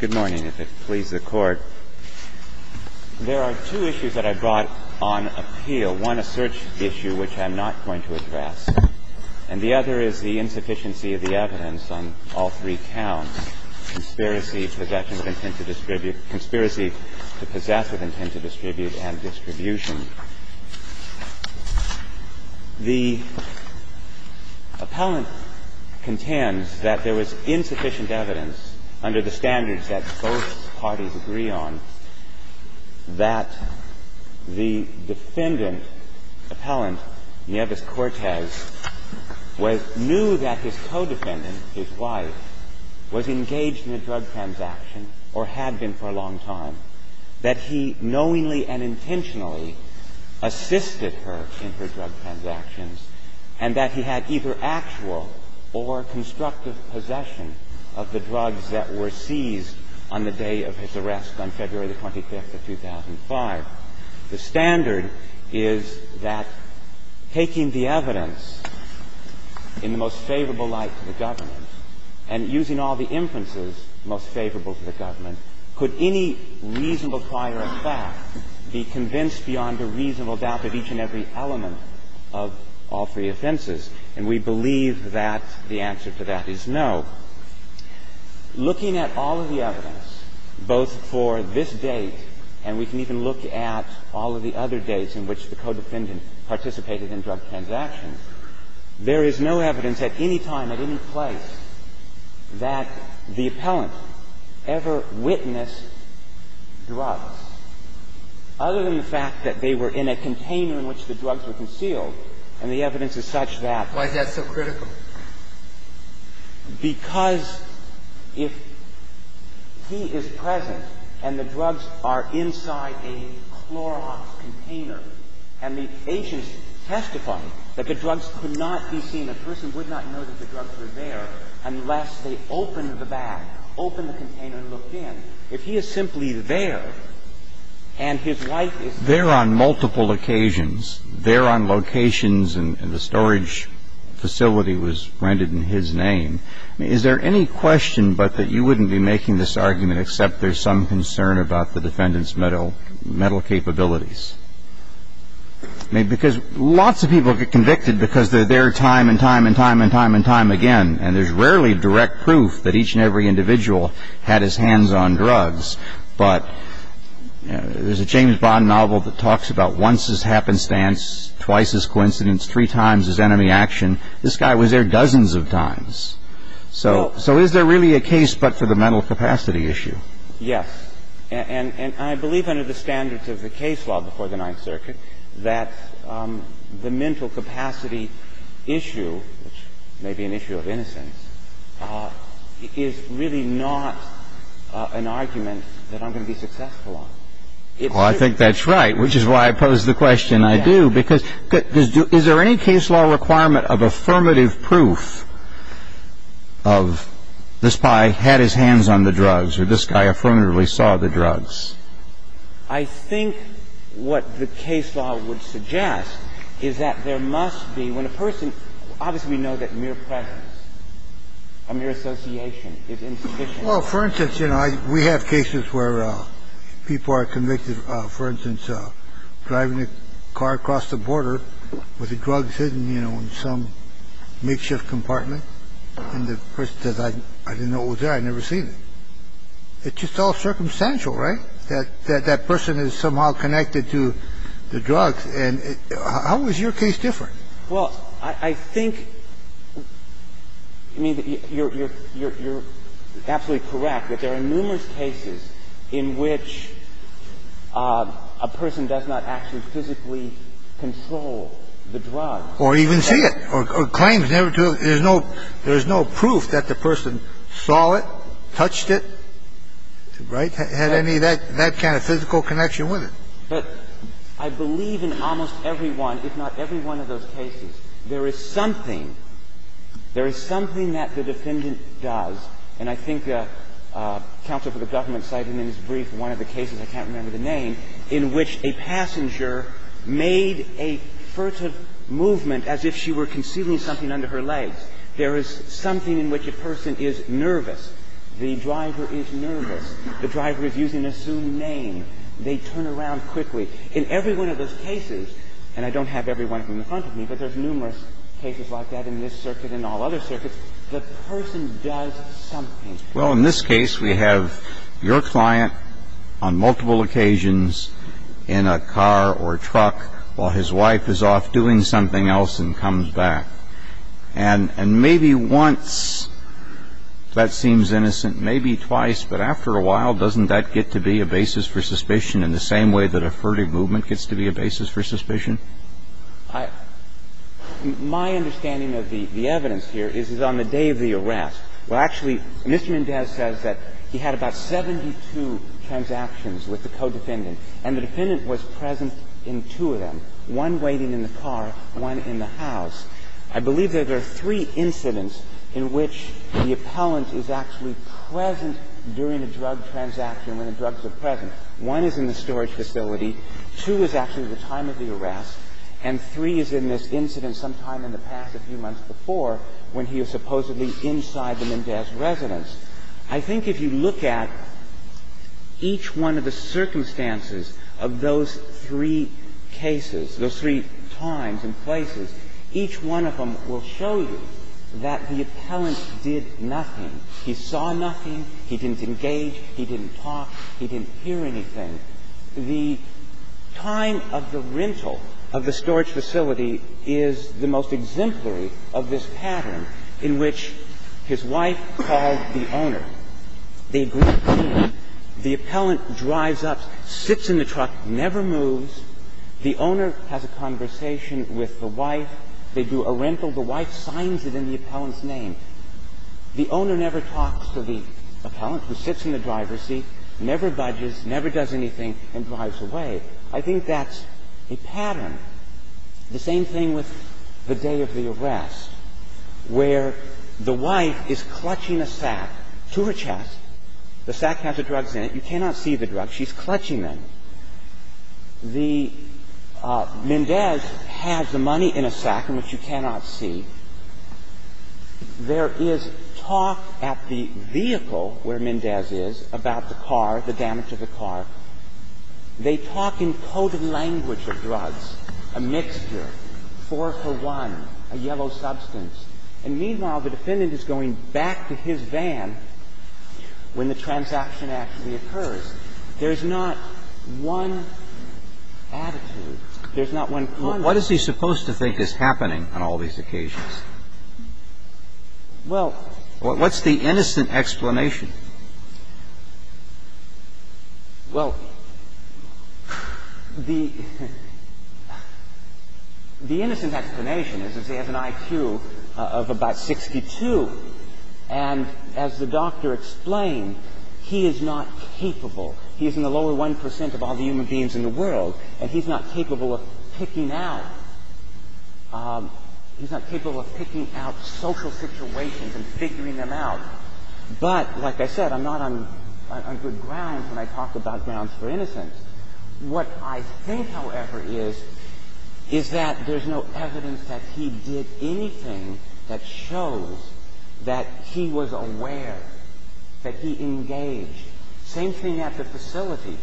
Good morning, if it pleases the Court. There are two issues that I brought on appeal. One, a search issue, which I'm not going to address. And the other is the insufficiency of the evidence on all three counts, conspiracy possession of intent to distribute, conspiracy to possess with intent to distribute and distribution. The appellant contends that there was insufficient evidence under the standards that both parties agree on that the defendant, appellant Nieves-Cortez, knew that his co-defendant, his wife, was engaged in a drug transaction or had been for a long time, that he knowingly and intentionally assisted her in her drug transactions, and that he had either actual or constructive possession of the drugs that were seized on the day of his arrest on February the 25th of 2005. The standard is that taking the evidence in the most favorable light to the government and using all the inferences most favorable to the government, could any reasonable prior effect be convinced beyond a reasonable doubt of each and every element of all three offenses? And we believe that the answer to that is no. Looking at all of the evidence, both for this date and we can even look at all of the other dates in which the co-defendant participated in drug transactions, there is no evidence at any time, at any place, that the appellant ever witnessed drugs other than the fact that they were in a container in which the drugs were concealed, and the evidence is such that. Why is that so critical? Because if he is present and the drugs are inside a Clorox container, and the agents testify that the drugs could not be seen, a person would not know that the drugs were there unless they opened the bag, opened the container and looked in. If he is simply there and his wife is there on multiple occasions, there on locations, and the storage facility was rented in his name, is there any question but that you wouldn't be making this argument except there's some concern about the defendant's mental capabilities? Because lots of people get convicted because they're there time and time and time and time and time again, and there's rarely direct proof that each and every individual had his hands on drugs, but there's a James Bond novel that talks about once his happenstance, twice his coincidence, three times his enemy action. This guy was there dozens of times. So is there really a case but for the mental capacity issue? Yes. And I believe under the standards of the case law before the Ninth Circuit that the mental capacity issue, which may be an issue of innocence, is really not an argument that I'm going to be successful on. Well, I think that's right, which is why I pose the question I do, because is there any case law requirement of affirmative proof of this guy had his hands on the drugs or this guy affirmatively saw the drugs? I think what the case law would suggest is that there must be, when a person obviously we know that mere presence, a mere association is insufficient. Well, for instance, you know, we have cases where people are convicted, for instance, of driving a car across the border with the drugs hidden, you know, in some makeshift compartment, and the person says, I didn't know it was there, I'd never seen it. It's just all circumstantial, right, that that person is somehow connected to the drugs. And how is your case different? Well, I think, I mean, you're absolutely correct that there are numerous cases in which a person does not actually physically control the drugs. Or even see it, or claims never to. There's no proof that the person saw it, touched it, right, had any of that kind of physical connection with it. But I believe in almost every one, if not every one of those cases, there is something that the defendant does, and I think counsel for the government cited in his brief one of the cases, I can't remember the name, in which a passenger made a furtive movement as if she were concealing something under her legs. There is something in which a person is nervous. The driver is nervous. The driver is using a soon name. They turn around quickly. In every one of those cases, and I don't have every one in front of me, but there's numerous cases like that in this circuit and all other circuits, the person does something. Well, in this case, we have your client on multiple occasions in a car or truck while his wife is off doing something else and comes back. And maybe once that seems innocent, maybe twice, but after a while, doesn't that get to be a basis for suspicion in the same way that a furtive movement gets to be a basis for suspicion? My understanding of the evidence here is it's on the day of the arrest. Well, actually, Mr. Mendez says that he had about 72 transactions with the co-defendant. And the defendant was present in two of them, one waiting in the car, one in the house. I believe that there are three incidents in which the appellant is actually present during a drug transaction when the drugs are present. One is in the storage facility. Two is actually the time of the arrest. And three is in this incident sometime in the past, a few months before, when he was supposedly inside the Mendez residence. I think if you look at each one of the circumstances of those three cases, those three times and places, each one of them will show you that the appellant did nothing. He saw nothing. He didn't engage. He didn't talk. He didn't hear anything. The time of the rental of the storage facility is the most exemplary of this pattern in which his wife called the owner. They agreed to meet. The appellant drives up, sits in the truck, never moves. The owner has a conversation with the wife. They do a rental. The wife signs it in the appellant's name. The owner never talks to the appellant, who sits in the driver's seat, never budges, never does anything, and drives away. I think that's a pattern. The same thing with the day of the arrest, where the wife is clutching a sack to her chest. The sack has the drugs in it. You cannot see the drugs. She's clutching them. The Mendez has the money in a sack in which you cannot see. There is talk at the vehicle where Mendez is about the car, the damage of the car. They talk in coded language of drugs, a mixture, four for one, a yellow substance. And meanwhile, the defendant is going back to his van when the transaction actually occurs. There's not one attitude. There's not one conduct. What is he supposed to think is happening on all these occasions? What's the innocent explanation? Well, the innocent explanation is that he has an IQ of about 62. And as the doctor explained, he is not capable. He is in the lower 1% of all the human beings in the world. And he's not capable of picking out social situations and figuring them out. But, like I said, I'm not on good grounds when I talk about grounds for innocence. What I think, however, is, is that there's no evidence that he did anything that shows that he was aware, that he engaged. Same thing at the facility,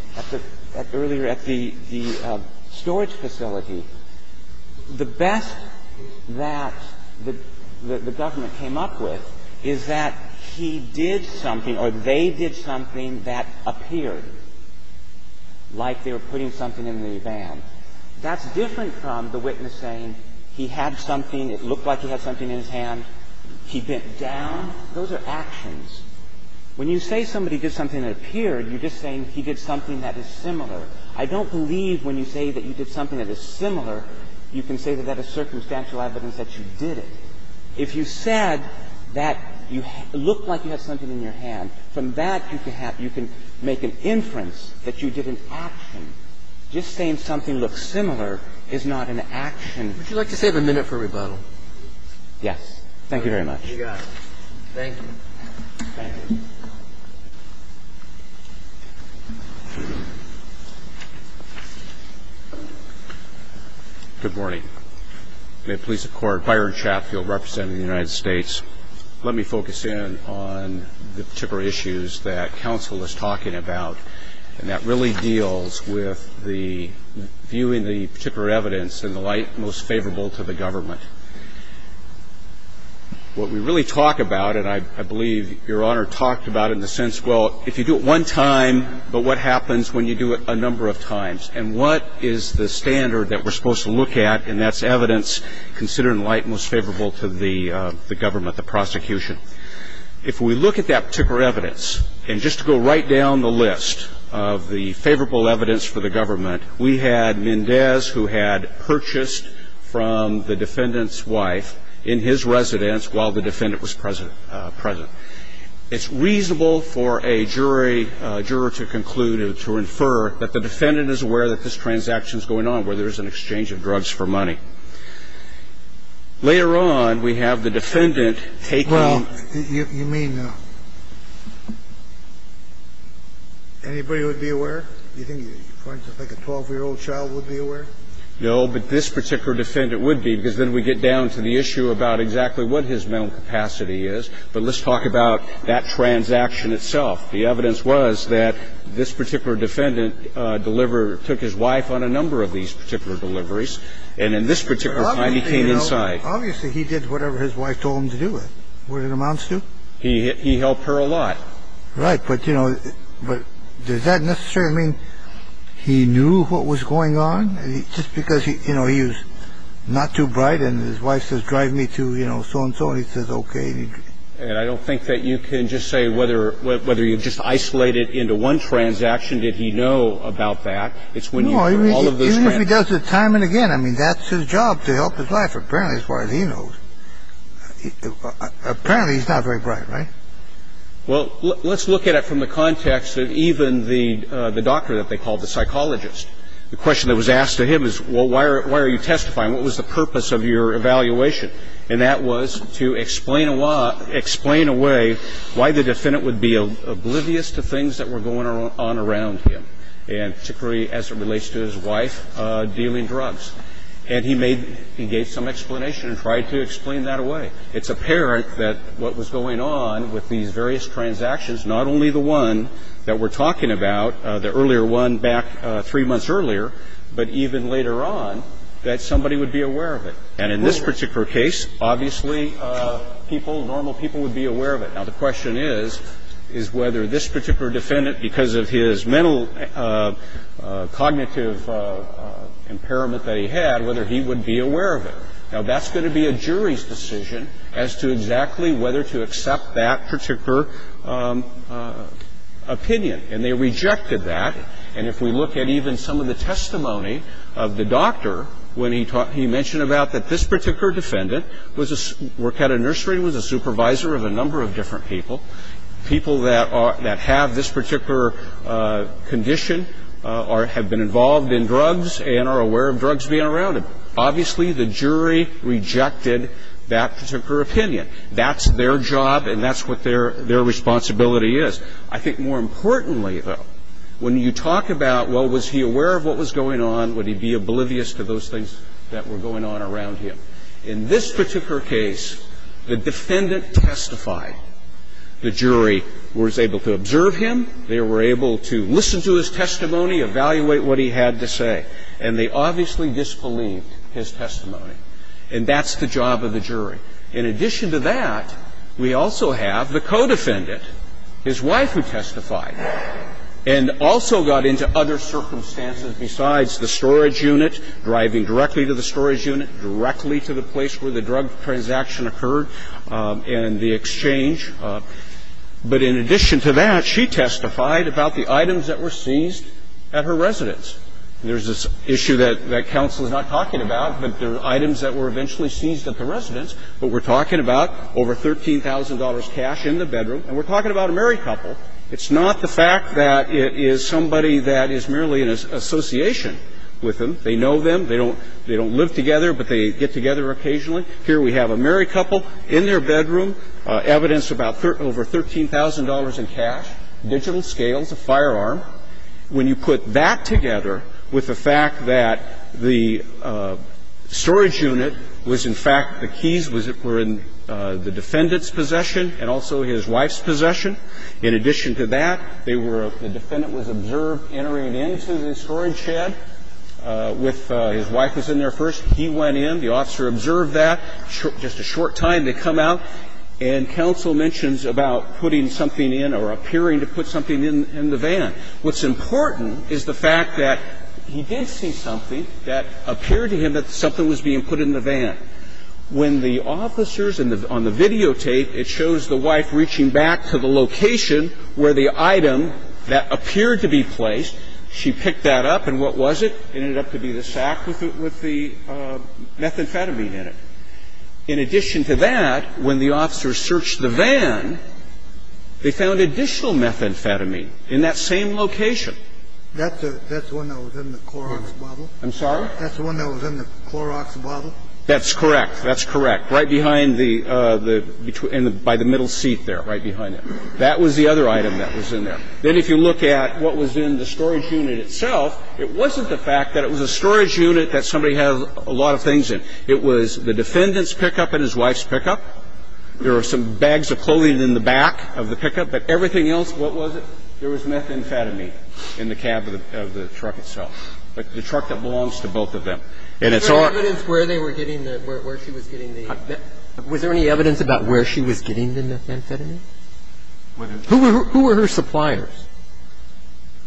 earlier at the storage facility. The best that the government came up with is that he did something or they did something that appeared like they were putting something in the van. That's different from the witness saying he had something, it looked like he had something in his hand, he bent down. Those are actions. When you say somebody did something that appeared, you're just saying he did something that is similar. I don't believe when you say that you did something that is similar, you can say that that is circumstantial evidence that you did it. If you said that you looked like you had something in your hand, from that you can have you can make an inference that you did an action. Just saying something looks similar is not an action. Would you like to save a minute for rebuttal? Yes. Thank you very much. You got it. Thank you. Thank you. Good morning. May it please the Court, Byron Chapfield representing the United States. Let me focus in on the particular issues that counsel is talking about, and that really deals with viewing the particular evidence in the light most favorable to the government. What we really talk about, and I believe Your Honor talked about it in the sense, well, if you do it one time, but what happens when you do it a number of times? And what is the standard that we're supposed to look at, and that's evidence considered in light most favorable to the government, the prosecution? If we look at that particular evidence, and just to go right down the list of the favorable evidence for the government, we had Mendez who had purchased from the defendant's wife in his residence while the defendant was present. It's reasonable for a jury, a juror to conclude or to infer that the defendant is aware that this transaction is going on where there is an exchange of drugs for money. Later on, we have the defendant taking. Well, you may know. Anybody would be aware? Do you think, for instance, like a 12-year-old child would be aware? No, but this particular defendant would be, because then we get down to the issue about exactly what his mental capacity is. But let's talk about that transaction itself. The evidence was that this particular defendant delivered or took his wife on a number of these particular deliveries, and in this particular time, he came inside. Obviously, he did whatever his wife told him to do it. Would it amount to? He helped her a lot. Right. But, you know, does that necessarily mean he knew what was going on? Just because, you know, he was not too bright and his wife says, drive me to, you know, so-and-so, and he says, okay. And I don't think that you can just say whether you just isolated into one transaction did he know about that. No, even if he does it time and again, I mean, that's his job to help his wife. Apparently, as far as he knows. Apparently, he's not very bright, right? Well, let's look at it from the context of even the doctor that they called the psychologist. The question that was asked to him is, well, why are you testifying? What was the purpose of your evaluation? And that was to explain away why the defendant would be oblivious to things that were going on around him, and particularly as it relates to his wife dealing drugs. And he gave some explanation and tried to explain that away. It's apparent that what was going on with these various transactions, not only the one that we're talking about, the earlier one back three months earlier, but even later on, that somebody would be aware of it. And in this particular case, obviously, people, normal people would be aware of it. Now, the question is, is whether this particular defendant, because of his mental cognitive impairment that he had, whether he would be aware of it. Now, that's going to be a jury's decision as to exactly whether to accept that particular opinion. And they rejected that. And if we look at even some of the testimony of the doctor when he mentioned about that this particular defendant worked at a nursery and was a supervisor of a number of different people, people that have this particular condition have been involved in drugs and are aware of drugs being around them. Obviously, the jury rejected that particular opinion. That's their job and that's what their responsibility is. I think more importantly, though, when you talk about, well, was he aware of what was going on, would he be oblivious to those things that were going on around him? In this particular case, the defendant testified. The jury was able to observe him. They were able to listen to his testimony, evaluate what he had to say. And they obviously disbelieved his testimony. And that's the job of the jury. In addition to that, we also have the co-defendant, his wife, who testified and also got into other circumstances besides the storage unit, driving directly to the storage unit, directly to the place where the drug transaction occurred and the exchange. But in addition to that, she testified about the items that were seized at her residence. There's this issue that counsel is not talking about, that there are items that were eventually seized at the residence. But we're talking about over $13,000 cash in the bedroom, and we're talking about a married couple. It's not the fact that it is somebody that is merely an association with them. They know them. They don't live together, but they get together occasionally. Here we have a married couple in their bedroom, evidence about over $13,000 in cash, digital scales, a firearm. When you put that together with the fact that the storage unit was, in fact, the keys were in the defendant's possession and also his wife's possession, in addition to that, they were the defendant was observed entering into the storage shed with his wife was in there first. He went in. The officer observed that. Just a short time to come out, and counsel mentions about putting something in or appearing to put something in the van. What's important is the fact that he did see something that appeared to him that something was being put in the van. When the officers on the videotape, it shows the wife reaching back to the location where the item that appeared to be placed, she picked that up, and what was it? It ended up to be the sack with the methamphetamine in it. In addition to that, when the officers searched the van, they found additional methamphetamine in that same location. That's the one that was in the Clorox bottle? I'm sorry? That's the one that was in the Clorox bottle? That's correct. That's correct. Right behind the by the middle seat there, right behind it. That was the other item that was in there. Then if you look at what was in the storage unit itself, it wasn't the fact that it was a storage unit that somebody had a lot of things in. It was the defendant's pickup and his wife's pickup. There were some bags of clothing in the back of the pickup, but everything else, what was it? There was methamphetamine in the cab of the truck itself, the truck that belongs to both of them. And there was methamphetamine in the cab of the truck itself, the truck that belongs to both of them. And it's all of that. And is there any evidence where they were getting the – where she was getting the – was there any evidence about where she was getting the methamphetamine? Who were her suppliers?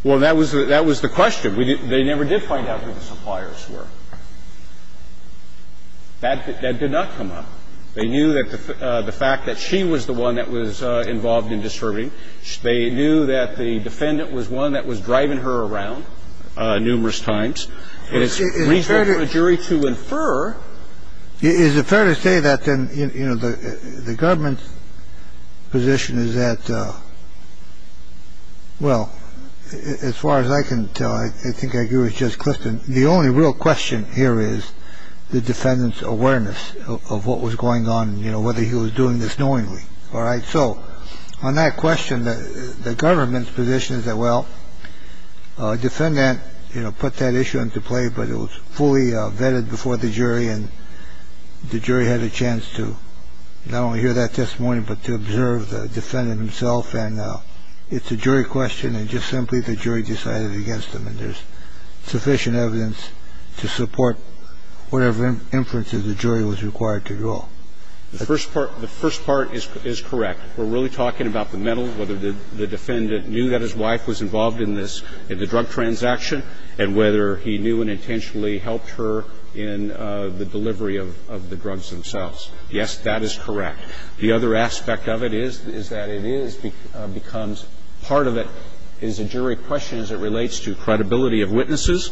Well, that was the question. They never did find out who the suppliers were. That did not come up. They knew that the fact that she was the one that was involved in distributing. They knew that the defendant was one that was driving her around numerous times. And it's reasonable for a jury to infer. Is it fair to say that then, you know, the government's position is that – well, as far as I can tell, I think I agree with Judge Clifton, the only real question here is the defendant's awareness of what was going on, you know, whether he was doing this knowingly. All right. So on that question, the government's position is that, well, a defendant put that issue into play, but it was fully vetted before the jury and the jury had a chance to not only hear that testimony, but to observe the defendant himself. It's a jury question and just simply the jury decided against him. And there's sufficient evidence to support whatever inferences the jury was required to draw. The first part is correct. We're really talking about the mental, whether the defendant knew that his wife was involved in this, in the drug transaction and whether he knew and intentionally helped her in the delivery of the drugs themselves. Yes, that is correct. The other aspect of it is that it is – becomes – part of it is a jury question as it relates to credibility of witnesses.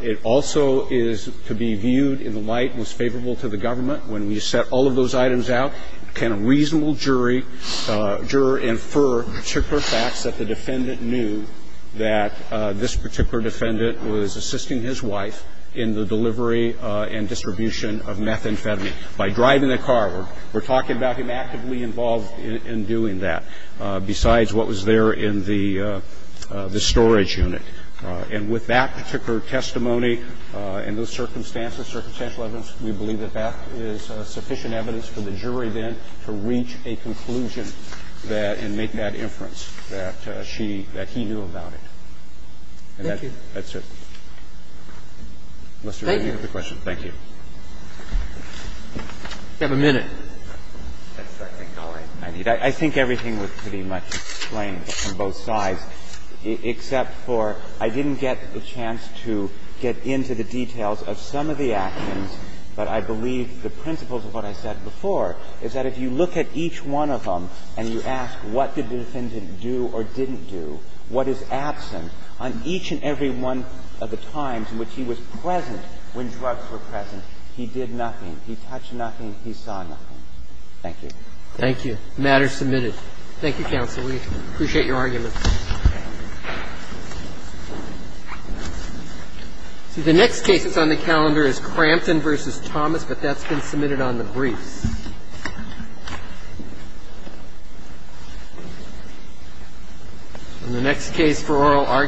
It also is to be viewed in the light most favorable to the government. When we set all of those items out, can a reasonable jury – juror infer particular facts that the defendant knew that this particular defendant was assisting his wife in the delivery and distribution of methamphetamine? By driving the car, we're talking about him actively involved in doing that, besides what was there in the storage unit. And with that particular testimony and those circumstances, circumstantial evidence, we believe that that is sufficient evidence for the jury then to reach a conclusion that – and make that inference that she – that he knew about it. And that's it. Thank you. Thank you. Thank you for the question. Thank you. You have a minute. I think everything was pretty much explained on both sides, except for I didn't get the chance to get into the details of some of the actions. But I believe the principles of what I said before is that if you look at each one of them and you ask what did the defendant do or didn't do, what is absent on each and every one of the times in which he was present when drugs were present? He did nothing. He touched nothing. He saw nothing. Thank you. Thank you. The matter is submitted. Thank you, counsel. We appreciate your arguments. See, the next case that's on the calendar is Crampton v. Thomas, but that's been submitted on the briefs.